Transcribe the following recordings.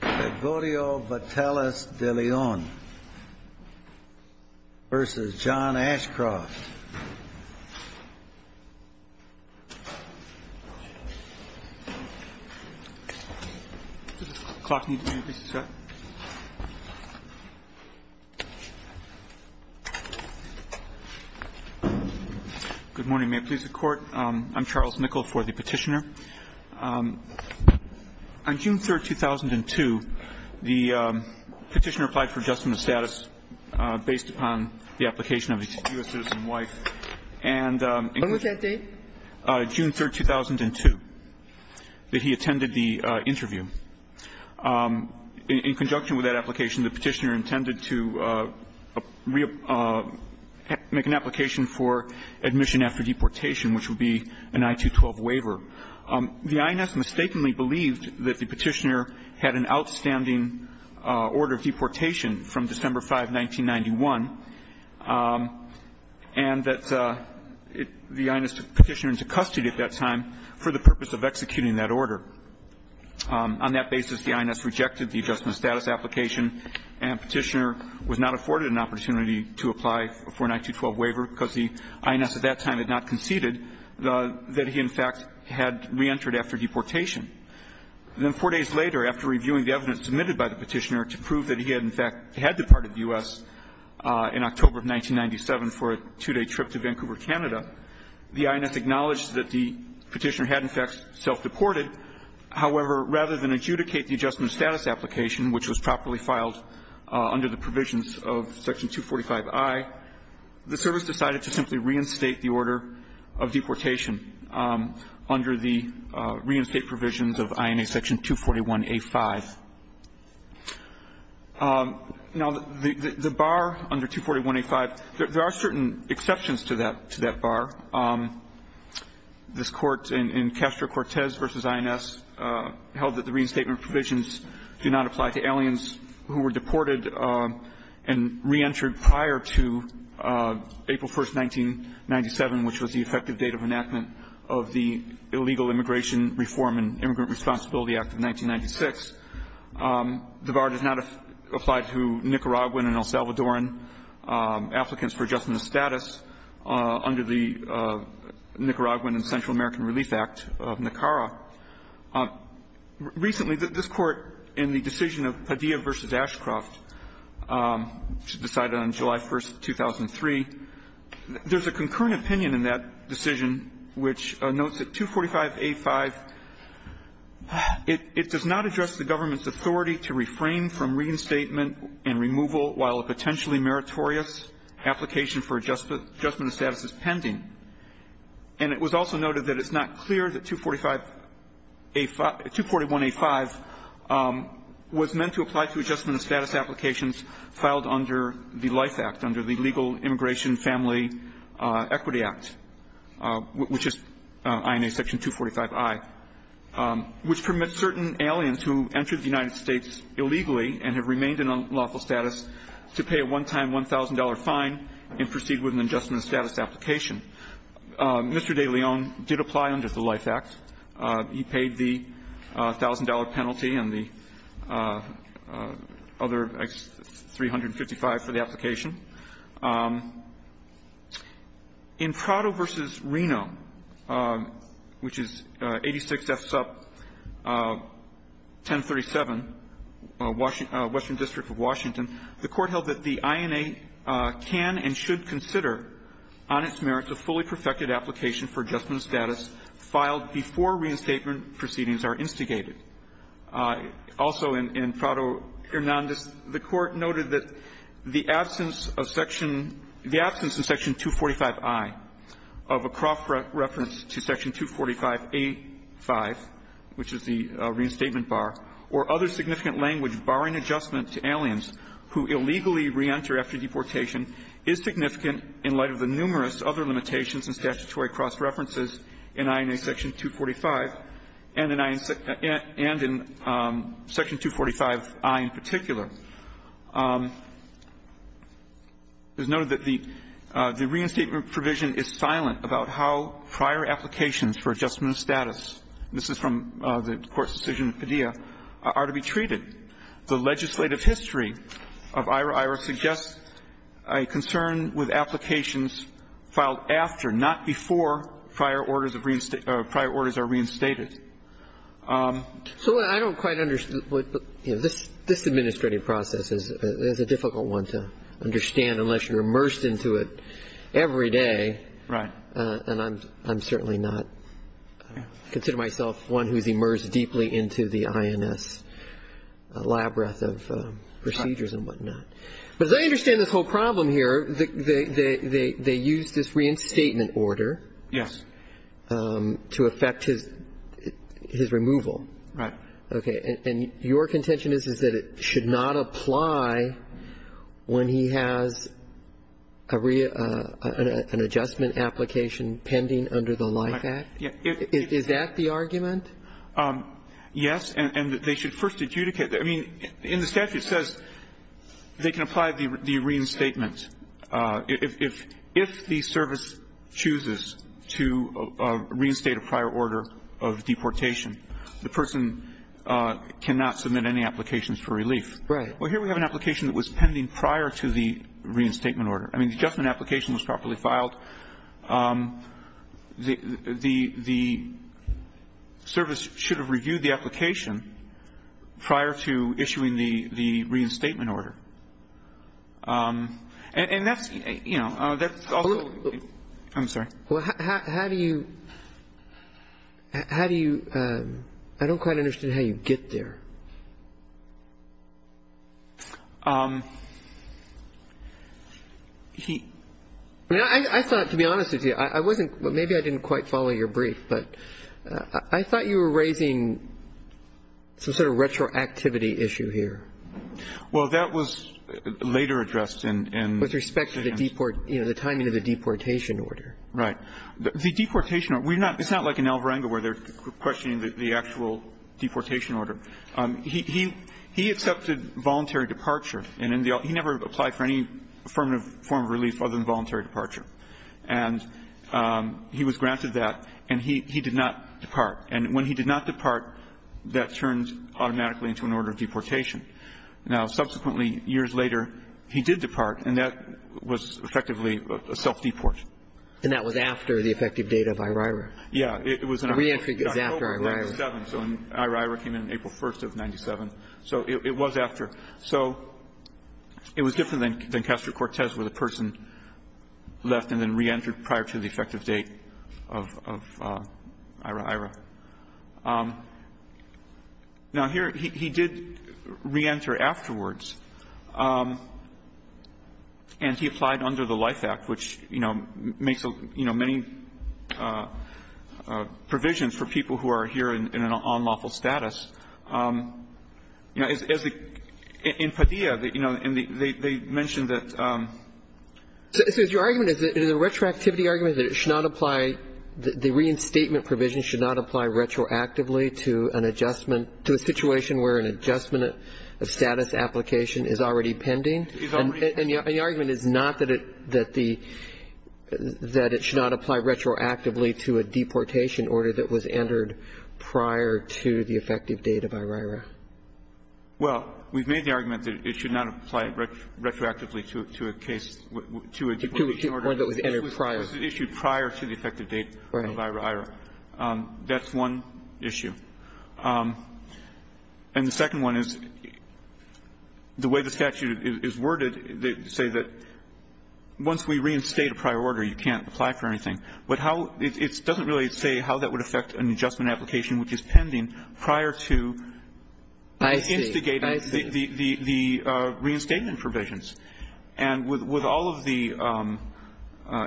Gregorio Vatelis de Leon v. John Ashcroft Does the clock need to be increased, sir? Good morning. May it please the Court? I'm Charles Nickel for the Petitioner. On June 3rd, 2002, the Petitioner applied for adjustment of status based upon the application of a U.S. citizen wife and — When was that date? June 3rd, 2002, that he attended the interview. In conjunction with that application, the Petitioner intended to make an application for admission after deportation, which would be an I-212 waiver. The I.N.S. mistakenly believed that the Petitioner had an outstanding order of deportation from December 5, 1991, and that the I.N.S. took the Petitioner into custody at that time for the purpose of executing that order. On that basis, the I.N.S. rejected the adjustment of status application, and Petitioner was not afforded an opportunity to apply for an I-212 waiver because the I.N.S. at that time had not conceded that he, in fact, had reentered after deportation. Then four days later, after reviewing the evidence submitted by the Petitioner to prove that he had, in fact, had departed the U.S. in October of 1997 for a two-day trip to Vancouver, Canada, the I.N.S. acknowledged that the Petitioner had, in fact, self-deported. However, rather than adjudicate the adjustment of status application, which was properly filed under the provisions of Section 245i, the service decided to simply reinstate the order of deportation under the reinstate provisions of INA Section 241a-5. Now, the bar under 241a-5, there are certain exceptions to that bar. This Court in Castro-Cortez v. I.N.S. held that the reinstatement provisions do not apply to aliens who were deported and reentered prior to April 1, 1997, which was the effective date of enactment of the Illegal Immigration Reform and Immigrant Responsibility Act of 1996. The bar does not apply to Nicaraguan and El Salvadoran applicants for adjustment of status under the Nicaraguan and Central American Relief Act of NACARA. Recently, this Court, in the decision of Padilla v. Ashcroft, decided on July 1, 2003, there's a concurrent opinion in that decision which notes that 245a-5, it does not address the government's authority to refrain from reinstatement and removal while a potentially meritorious application for adjustment of status is pending. And it was also noted that it's not clear that 245a-5, 241a-5 was meant to apply to adjustment of status applications filed under the LIFE Act, under the Legal Immigration Family Equity Act, which is INA section 245i, which permits certain aliens who entered the United States illegally and have remained in unlawful status to pay a one-time $1,000 fine and proceed with an adjustment of status application. Mr. DeLeon did apply under the LIFE Act. He paid the $1,000 penalty and the other $355 for the application. In Prado v. Reno, which is 86 F. Sup. 1037, Western District of Washington, the Court held that the INA can and should consider on its merits a fully perfected application for adjustment of status filed before reinstatement proceedings are instigated. Also in Prado v. Hernandez, the Court noted that the absence of section the absence of section 245i of a Croft reference to section 245a-5, which is the reinstatement bar, or other significant language barring adjustment to aliens who illegally re-enter after deportation, is significant in light of the numerous other limitations and statutory cross-references in INA section 245 and in INA section 245i in particular. It is noted that the reinstatement provision is silent about how prior applications for adjustment of status, this is from the Court's decision in Padilla, are to be treated. The legislative history of IHRA suggests a concern with applications filed after, not before, prior orders of reinstate or prior orders are reinstated. So I don't quite understand. This administrative process is a difficult one to understand unless you're immersed into it every day. Right. And I'm certainly not. I consider myself one who's immersed deeply into the INS. A lab breath of procedures and whatnot. But as I understand this whole problem here, they use this reinstatement order to affect his removal. Right. Okay. And your contention is that it should not apply when he has a rea an adjustment application pending under the LIFE Act? Is that the argument? Yes. And they should first adjudicate. I mean, in the statute it says they can apply the reinstatement if the service chooses to reinstate a prior order of deportation. The person cannot submit any applications for relief. Right. Well, here we have an application that was pending prior to the reinstatement order. I mean, the adjustment application was properly filed. The service should have reviewed the application prior to issuing the reinstatement order. And that's, you know, that's also. I'm sorry. How do you how do you I don't quite understand how you get there. He I thought, to be honest with you, I wasn't maybe I didn't quite follow your brief, but I thought you were raising some sort of retroactivity issue here. Well, that was later addressed in with respect to the deport, you know, the timing of the deportation order. Right. The deportation. We're not it's not like an Alvarenga where they're questioning the actual deportation order. He he he accepted voluntary departure. And he never applied for any form of relief other than voluntary departure. And he was granted that, and he he did not depart. And when he did not depart, that turned automatically into an order of deportation. Now, subsequently, years later, he did depart, and that was effectively a self-deport. And that was after the effective date of IRIRC. Yeah. It was a reentry. It was after IRIRC. So IRIRC came in April 1st of 97. So it was after. So it was different than Castro-Cortez, where the person left and then reentered prior to the effective date of IRIRC. Now, here he did reenter afterwards, and he applied under the LIFE Act, which, you know, makes, you know, many provisions for people who are here in an unlawful status. In Padilla, you know, they mentioned that the retroactivity argument that it should not apply, the reinstatement provision should not apply retroactively to an adjustment to a situation where an adjustment of status application is already pending. And the argument is not that it should not apply retroactively to a deportation order that was entered prior to the effective date of IRIRC. Well, we've made the argument that it should not apply retroactively to a case to a deportation order that was issued prior to the effective date of IRIRC. That's one issue. And the second one is the way the statute is worded, they say that once we reinstate a prior order, you can't apply for anything. But how — it doesn't really say how that would affect an adjustment application which is pending prior to instigating the reinstatement provisions. And with all of the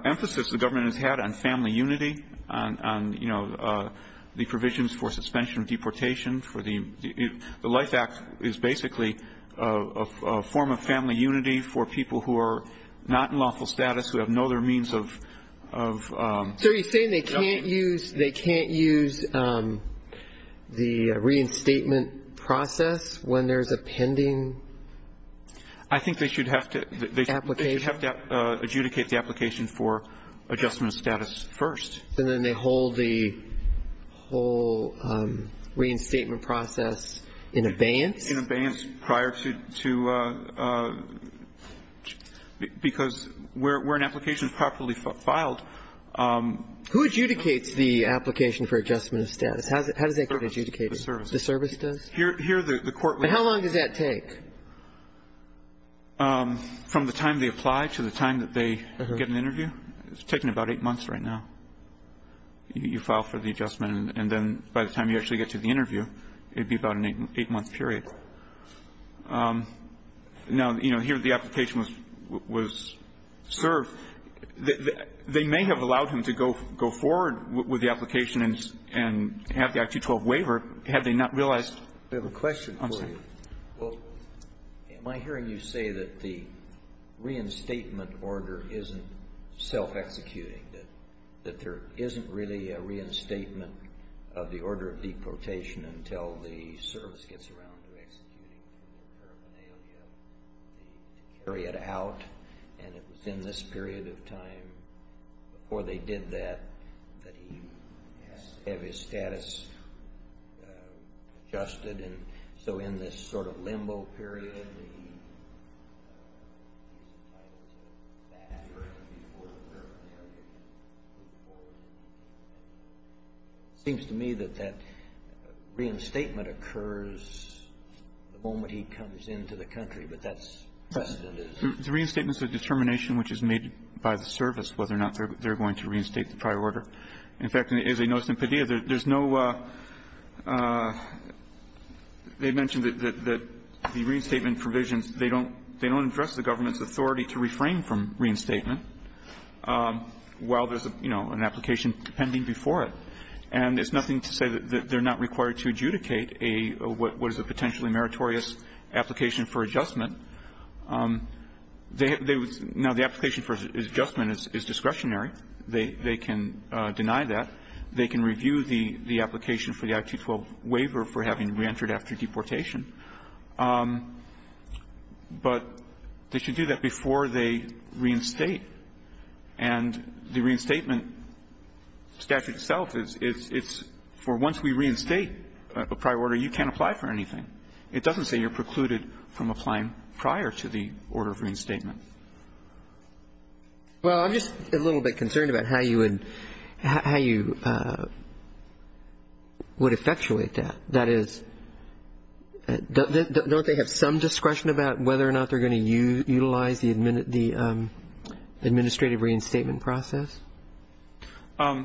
emphasis the government has had on family unity, on, you know, the provisions for suspension of deportation, for the — the LIFE Act is basically a form of family unity for people who are not in lawful status, who have no other means of — So are you saying they can't use — they can't use the reinstatement process when there's a pending application? I think they should have to adjudicate the application for adjustment of status first. And then they hold the whole reinstatement process in abeyance? In abeyance prior to — because where an application is properly filed — Who adjudicates the application for adjustment of status? How does that get adjudicated? The service. The service does? Here the court — But how long does that take? From the time they apply to the time that they get an interview. It's taking about eight months right now. You file for the adjustment and then by the time you actually get to the interview, it would be about an eight-month period. Now, you know, here the application was served. They may have allowed him to go forward with the application and have the Act 212 waiver, had they not realized — We have a question for you. I'm sorry. Well, am I hearing you say that the reinstatement order isn't self-executing, that there isn't really a reinstatement of the order of deportation until the service gets around to executing the paraphernalia to carry it out? And it was in this period of time before they did that that he has to have his status adjusted? And so in this sort of limbo period, he might have to have his status adjusted before the paraphernalia gets moved forward? It seems to me that that reinstatement occurs the moment he comes into the country, but that's precedent is — The reinstatement is a determination which is made by the service, whether or not they're going to reinstate the prior order. In fact, as I noticed in Padilla, there's no — they mentioned that the reinstatement provisions, they don't address the government's authority to refrain from reinstatement while there's, you know, an application pending before it. And it's nothing to say that they're not required to adjudicate a — what is a potentially meritorious application for adjustment. Now, the application for adjustment is discretionary. They can deny that. They can review the application for the I-212 waiver for having reentered after deportation. But they should do that before they reinstate. And the reinstatement statute itself is — it's for once we reinstate a prior order, you can't apply for anything. It doesn't say you're precluded from applying prior to the order of reinstatement. Well, I'm just a little bit concerned about how you would — how you would effectuate that. That is, don't they have some discretion about whether or not they're going to utilize the administrative reinstatement process? I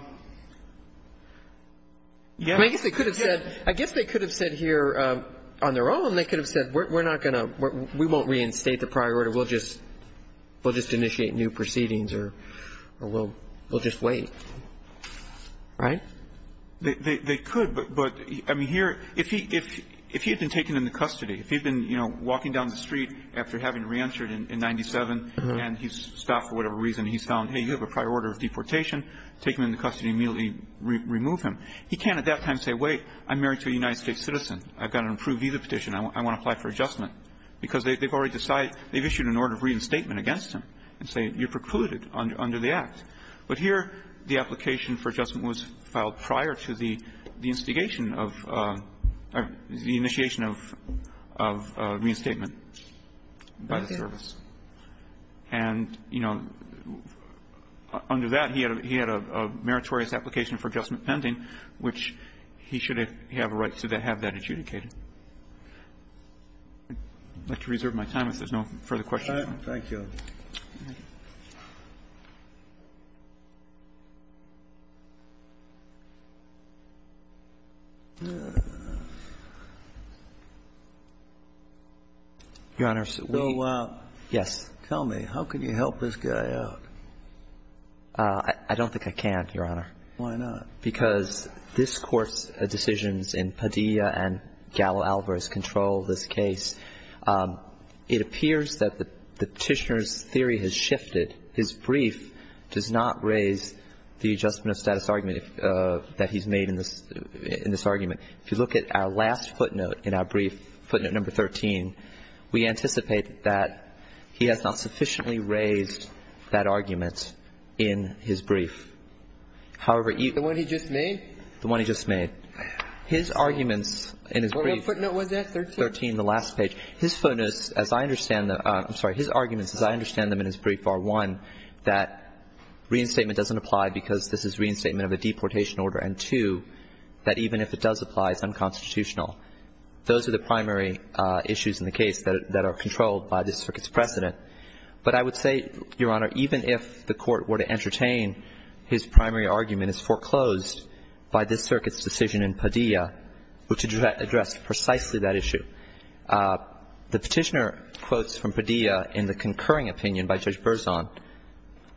guess they could have said — I guess they could have said here on their own, they could have said, we're not going to — we won't reinstate the prior order, we'll just — we'll just initiate new proceedings or we'll — we'll just wait. Right? They could, but — I mean, here, if he had been taken into custody, if he had been, you know, walking down the street after having reentered in 97 and he's stopped for whatever reason and he's found, hey, you have a prior order of deportation, take him into custody and immediately remove him, he can't at that time say, wait, I'm married to a United States citizen, I've got an approved visa petition, I want to apply for adjustment. Because they've already decided — they've issued an order of reinstatement against him and say, you precluded under the Act. But here, the application for adjustment was filed prior to the instigation of — or the initiation of — of reinstatement by the service. And, you know, under that, he had a — he had a meritorious application for adjustment pending, which he should have a right to have that adjudicated. I'd like to reserve my time if there's no further questions. Thank you. Your Honor, we — So tell me, how can you help this guy out? I don't think I can, Your Honor. Why not? Because this Court's decisions in Padilla and Gallo-Alvarez control this case. It appears that the petitioner's theory has shifted. His brief does not raise the adjustment of status argument that he's made in this — in this argument. If you look at our last footnote in our brief, footnote number 13, we anticipate that he has not sufficiently raised that argument in his brief. However, even — The one he just made? The one he just made. His arguments in his brief — What footnote was that, 13? 13, the last page. His footnotes, as I understand them — I'm sorry. His arguments, as I understand them in his brief, are, one, that reinstatement doesn't apply because this is reinstatement of a deportation order, and, two, that even if it does apply, it's unconstitutional. Those are the primary issues in the case that — that are controlled by this Circuit's precedent. But I would say, Your Honor, even if the Court were to entertain his primary argument, it's foreclosed by this Circuit's decision in Padilla, which addressed precisely that issue. The petitioner quotes from Padilla in the concurring opinion by Judge Berzon,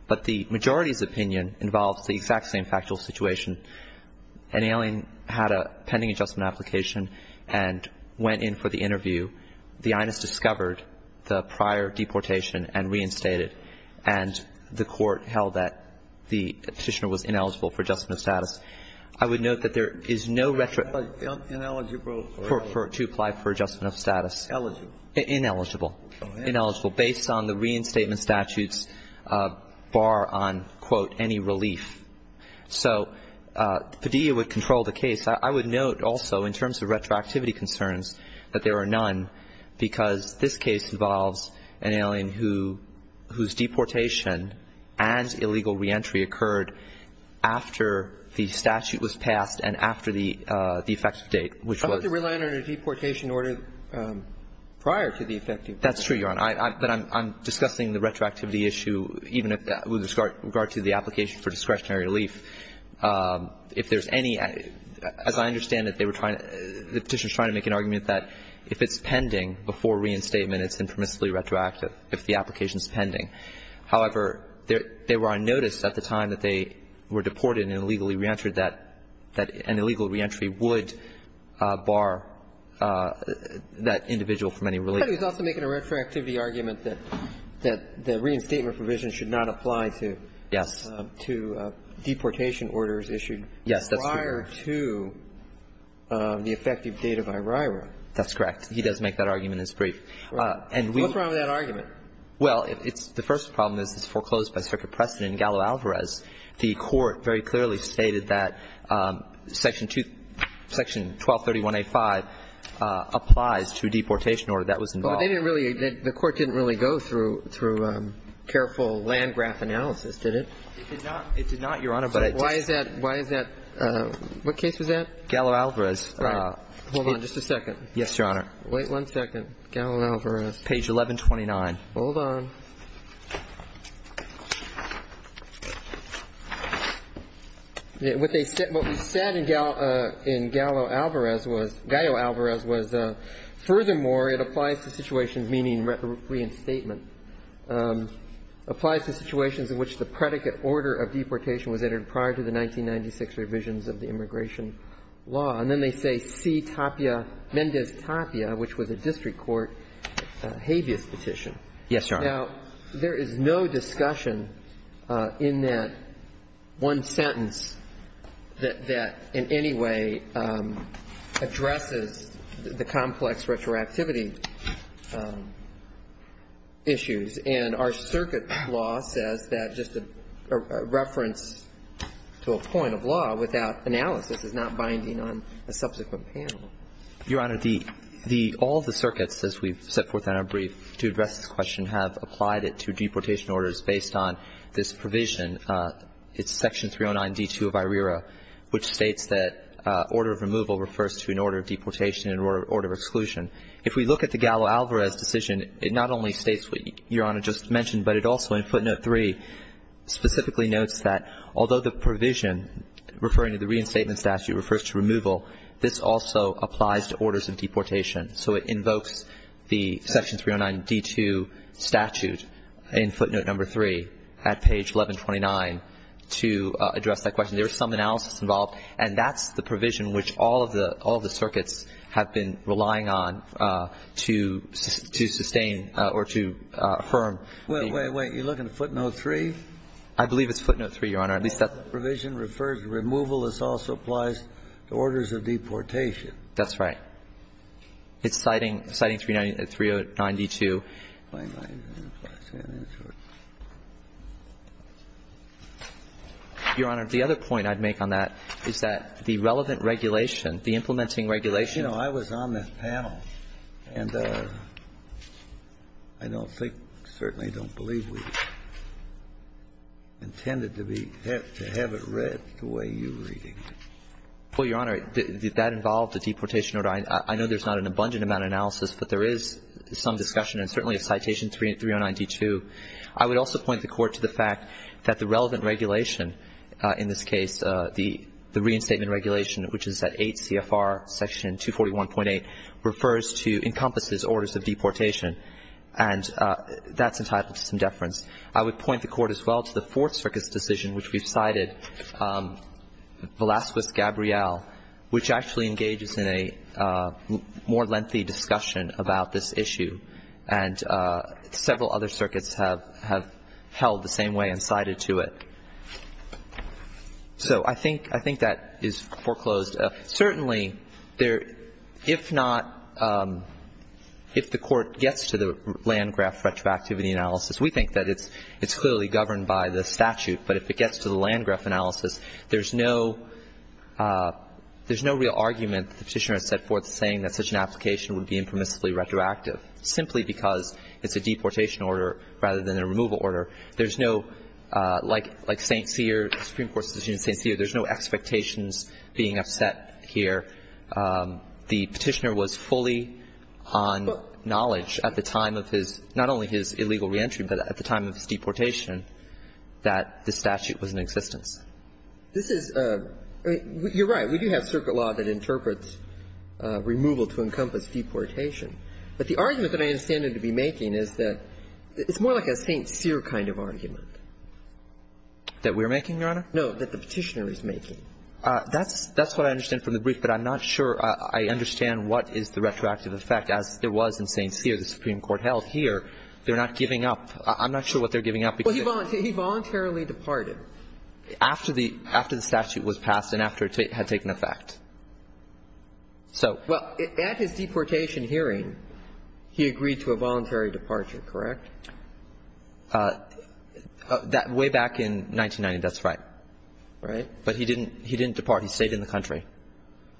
but the majority's opinion involves the exact same factual situation. An alien had a pending adjustment application and went in for the interview. The INS discovered the prior deportation and reinstated, and the Court held that the petitioner was ineligible for adjustment of status. I would note that there is no retro — Ineligible? To apply for adjustment of status. Ineligible. Ineligible. Ineligible, based on the reinstatement statutes bar on, quote, any relief. So Padilla would control the case. I would note also, in terms of retroactivity concerns, that there are none, because this case involves an alien who — whose deportation and illegal reentry occurred after the statute was passed and after the effective date, which was — I hope they rely on a deportation order prior to the effective date. That's true, Your Honor. But I'm discussing the retroactivity issue even with regard to the application for discretionary relief. If there's any — as I understand it, they were trying — the petitioner was trying to make an argument that if it's pending before reinstatement, it's impermissibly retroactive if the application is pending. However, they were on notice at the time that they were deported and illegally reentered that an illegal reentry would bar that individual from any relief. But he was also making a retroactivity argument that the reinstatement provision should not apply to — Yes. — to deportation orders issued prior to the effective date of IRIRA. That's correct. He does make that argument. It's brief. And we — What's wrong with that argument? Well, it's — the first problem is it's foreclosed by circuit precedent in Gallo-Alvarez. The Court very clearly stated that Section 1231A5 applies to a deportation order that was involved. But they didn't really — the Court didn't really go through careful land graph analysis, did it? It did not, Your Honor. But I just — Why is that — why is that — what case was that? Gallo-Alvarez. Right. Hold on just a second. Yes, Your Honor. Wait one second. Gallo-Alvarez. Page 1129. Hold on. What they said — what we said in Gallo-Alvarez was — Gallo-Alvarez was, furthermore, it applies to situations meaning reinstatement, applies to situations in which the predicate order of deportation was entered prior to the 1996 revisions of the immigration law. And then they say C. Tapia — Mendez-Tapia, which was a district court habeas petition. Yes, Your Honor. Now, there is no discussion in that one sentence that in any way addresses the complex retroactivity issues. And our circuit law says that just a reference to a point of law without analysis is not binding on a subsequent panel. Your Honor, the — all the circuits, as we've set forth in our brief to address this question, have applied it to deportation orders based on this provision. It's Section 309D2 of IRERA, which states that order of removal refers to an order of deportation and order of exclusion. If we look at the Gallo-Alvarez decision, it not only states what Your Honor just mentioned, but it also, in footnote 3, specifically notes that although the provision referring to the reinstatement statute refers to removal, this also applies to orders of deportation. So it invokes the Section 309D2 statute in footnote number 3 at page 1129 to address that question. There's some analysis involved, and that's the provision which all of the — all of the circuits have been relying on to — to sustain or to affirm. Wait, wait, wait. You're looking at footnote 3? I believe it's footnote 3, Your Honor. At least that's the provision refers to removal. This also applies to orders of deportation. That's right. It's citing — citing 309D2. Your Honor, the other point I'd make on that is that the relevant regulation, the implementing regulation — You know, I was on that panel, and I don't think, certainly don't believe we intended to be — to have it read the way you're reading it. Well, Your Honor, that involved a deportation order. I know there's not an abundant amount of analysis, but there is some discussion, and certainly of citation 309D2. I would also point the Court to the fact that the relevant regulation in this case, the reinstatement regulation, which is at 8 CFR section 241.8, refers to — encompasses orders of deportation, and that's entitled to some deference. I would point the Court as well to the Fourth Circuit's decision, which we've cited, Velazquez-Gabriel, which actually engages in a more lengthy discussion about this issue, and several other circuits have held the same way and cited to it. So I think that is foreclosed. Certainly, if not — if the Court gets to the Landgraf retroactivity analysis, we think that it's clearly governed by the statute. But if it gets to the Landgraf analysis, there's no real argument that the Petitioner has set forth saying that such an application would be impermissibly retroactive. Simply because it's a deportation order rather than a removal order, there's no — like St. Cyr, Supreme Court decision in St. Cyr, there's no expectations being upset here. The Petitioner was fully on knowledge at the time of his — not only his illegal reentry, but at the time of his deportation, that the statute was in existence. This is — you're right. We do have circuit law that interprets removal to encompass deportation. But the argument that I understand it to be making is that it's more like a St. Cyr kind of argument. That we're making, Your Honor? No, that the Petitioner is making. That's — that's what I understand from the brief, but I'm not sure I understand what is the retroactive effect, as there was in St. Cyr, the Supreme Court held here. They're not giving up. I'm not sure what they're giving up. Well, he voluntarily departed. After the — after the statute was passed and after it had taken effect. So — Well, at his deportation hearing, he agreed to a voluntary departure, correct? That — way back in 1990, that's right. Right. But he didn't — he didn't depart. He stayed in the country.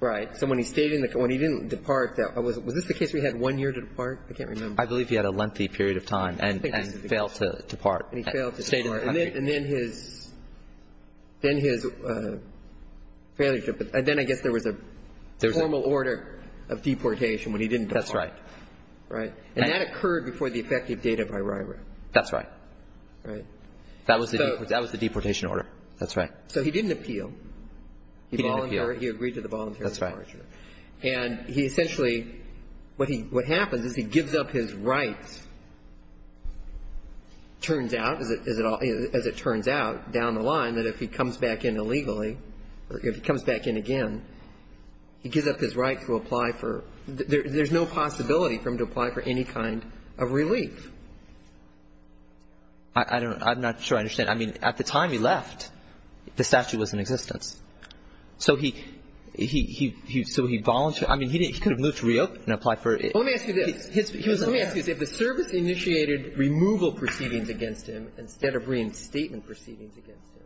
Right. So when he stayed in the — when he didn't depart, that was — was this the case where he had one year to depart? I can't remember. I believe he had a lengthy period of time and failed to depart. And he failed to depart. And then — and then his — then his failure to — and then I guess there was a formal order of deportation when he didn't depart. That's right. Right. And that occurred before the effective date of arrival. That's right. Right. That was the — that was the deportation order. That's right. So he didn't appeal. He volunteered. He agreed to the voluntary departure. And he essentially — what he — what happens is he gives up his rights, turns out, as it — as it turns out down the line, that if he comes back in illegally, or if he comes back in again, he gives up his right to apply for — there's no possibility for him to apply for any kind of relief. I don't know. I'm not sure I understand. I mean, at the time he left, the statute was in existence. So he — he — so he volunteered. I mean, he didn't — he could have moved to Rio and applied for — Let me ask you this. Let me ask you this. If the service initiated removal proceedings against him instead of reinstatement proceedings against him,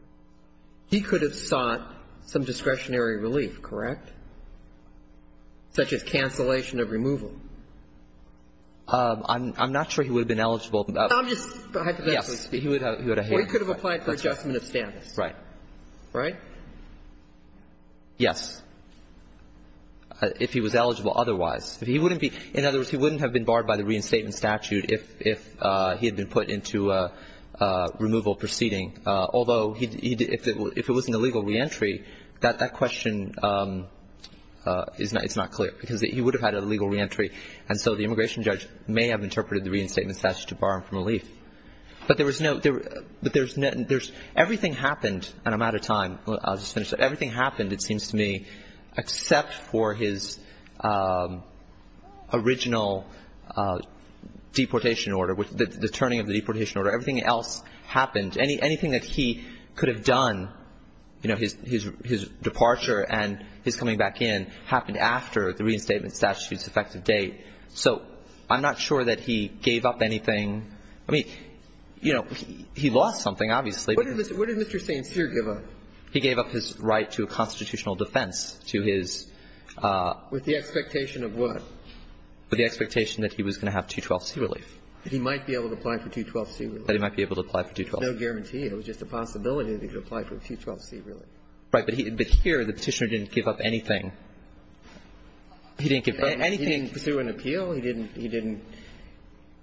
he could have sought some discretionary relief, correct, such as cancellation of removal? I'm — I'm not sure he would have been eligible. I'm just hypothetically speaking. Yes. He would have — he would have — Or he could have applied for adjustment of status. Right. Right? Yes. If he was eligible otherwise. If he wouldn't be — in other words, he wouldn't have been barred by the reinstatement statute if he had been put into a removal proceeding, although he — if it wasn't a legal reentry, that question is not — it's not clear, because he would have had a legal reentry, and so the immigration judge may have interpreted the reinstatement statute to bar him from relief. But there was no — but there's — everything happened — and I'm out of time. I'll just finish. Everything happened, it seems to me, except for his original deportation order, the turning of the deportation order. Everything else happened. Anything that he could have done, you know, his — his departure and his coming back in happened after the reinstatement statute's effective date. So I'm not sure that he gave up anything. I mean, you know, he lost something, obviously. What did — what did Mr. St. Cyr give up? He gave up his right to a constitutional defense, to his — With the expectation of what? With the expectation that he was going to have 212c relief. That he might be able to apply for 212c relief. That he might be able to apply for 212c. There's no guarantee. It was just a possibility that he could apply for a 212c relief. Right. But he — but here, the Petitioner didn't give up anything. He didn't give up anything. He didn't pursue an appeal. He didn't — he didn't —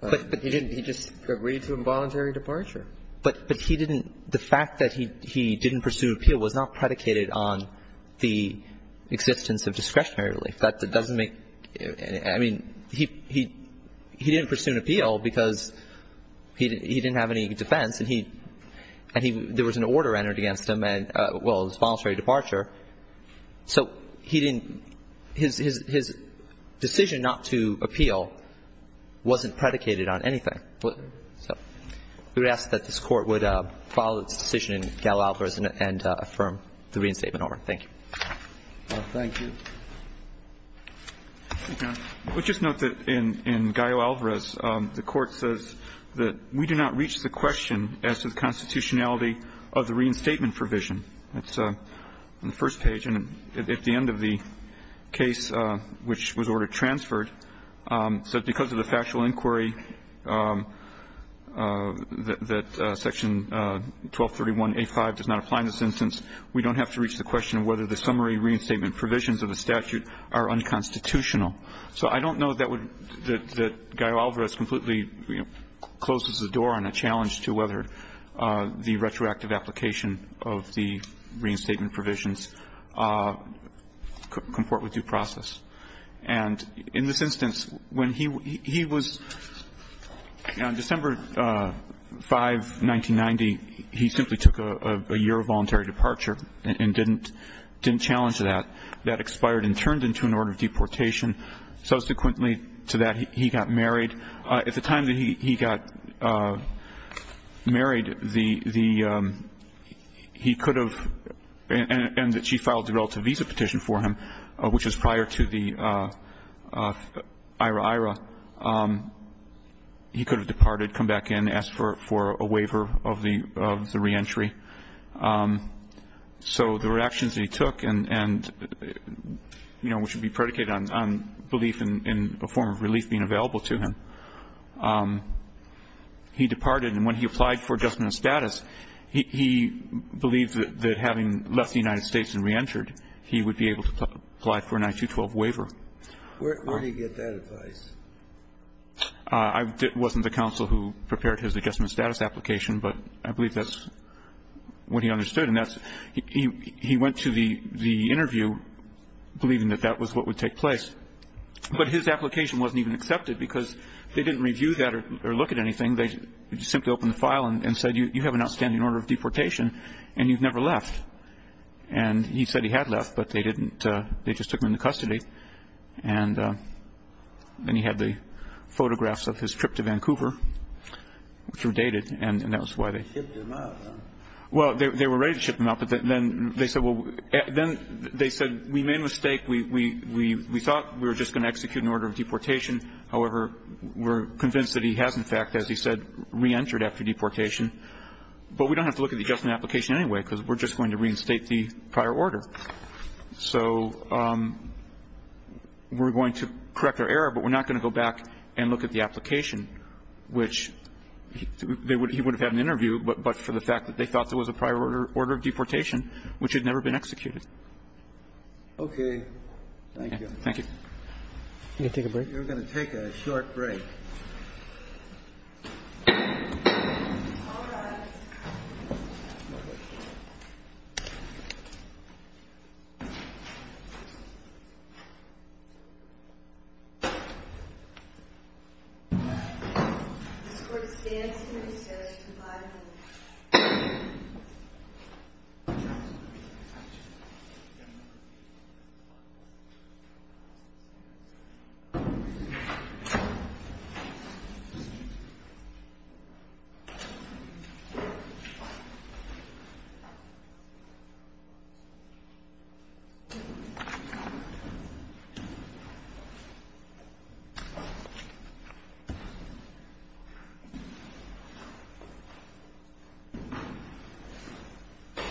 he didn't — he just agreed to involuntary departure. But — but he didn't — the fact that he — he didn't pursue an appeal was not predicated on the existence of discretionary relief. That doesn't make — I mean, he — he didn't pursue an appeal because he — he didn't have any defense. And he — and he — there was an order entered against him and — well, his voluntary departure. So he didn't — his — his decision not to appeal wasn't predicated on anything. So we would ask that this Court would follow its decision in Gallo-Alvarez and affirm the reinstatement order. Thank you. Thank you. We'll just note that in — in Gallo-Alvarez, the Court says that we do not reach the question as to the constitutionality of the reinstatement provision. It's on the first page. And at the end of the case, which was order transferred, said because of the factual inquiry that Section 1231A5 does not apply in this instance, we don't have to reach the question of whether the summary reinstatement provisions of the statute are unconstitutional. So I don't know that would — that Gallo-Alvarez completely closes the door on a challenge to whether the retroactive application of the reinstatement provisions comport with due process. And in this instance, when he was — on December 5, 1990, he simply took a year of voluntary departure and didn't — didn't challenge that. That expired and turned into an order of deportation. Subsequently to that, he got married. At the time that he got married, the — he could have — and that she filed a relative a petition for him, which was prior to the IRA-IRA. He could have departed, come back in, asked for a waiver of the — of the reentry. So the reactions that he took and, you know, which would be predicated on belief in a form of relief being available to him, he departed. And when he applied for adjustment of status, he believed that having left the United States and reentered, he would be able to apply for an I-212 waiver. Where did he get that advice? I wasn't the counsel who prepared his adjustment of status application, but I believe that's what he understood. And that's — he went to the interview believing that that was what would take place. But his application wasn't even accepted because they didn't review that or look at anything. They simply opened the file and said, you have an outstanding order of deportation and you've never left. And he said he had left, but they didn't — they just took him into custody. And then he had the photographs of his trip to Vancouver, which were dated, and that was why they — They shipped him out, huh? Well, they were ready to ship him out, but then they said, well — then they said, we made a mistake. We thought we were just going to execute an order of deportation. However, we're convinced that he has, in fact, as he said, reentered after deportation. But we don't have to look at the adjustment application anyway because we're just going to reinstate the prior order. So we're going to correct our error, but we're not going to go back and look at the application, which — he would have had an interview, but for the fact that they thought there was a prior order of deportation, which had never been executed. Okay. Thank you. Thank you. Can we take a break? You're going to take a short break. All right.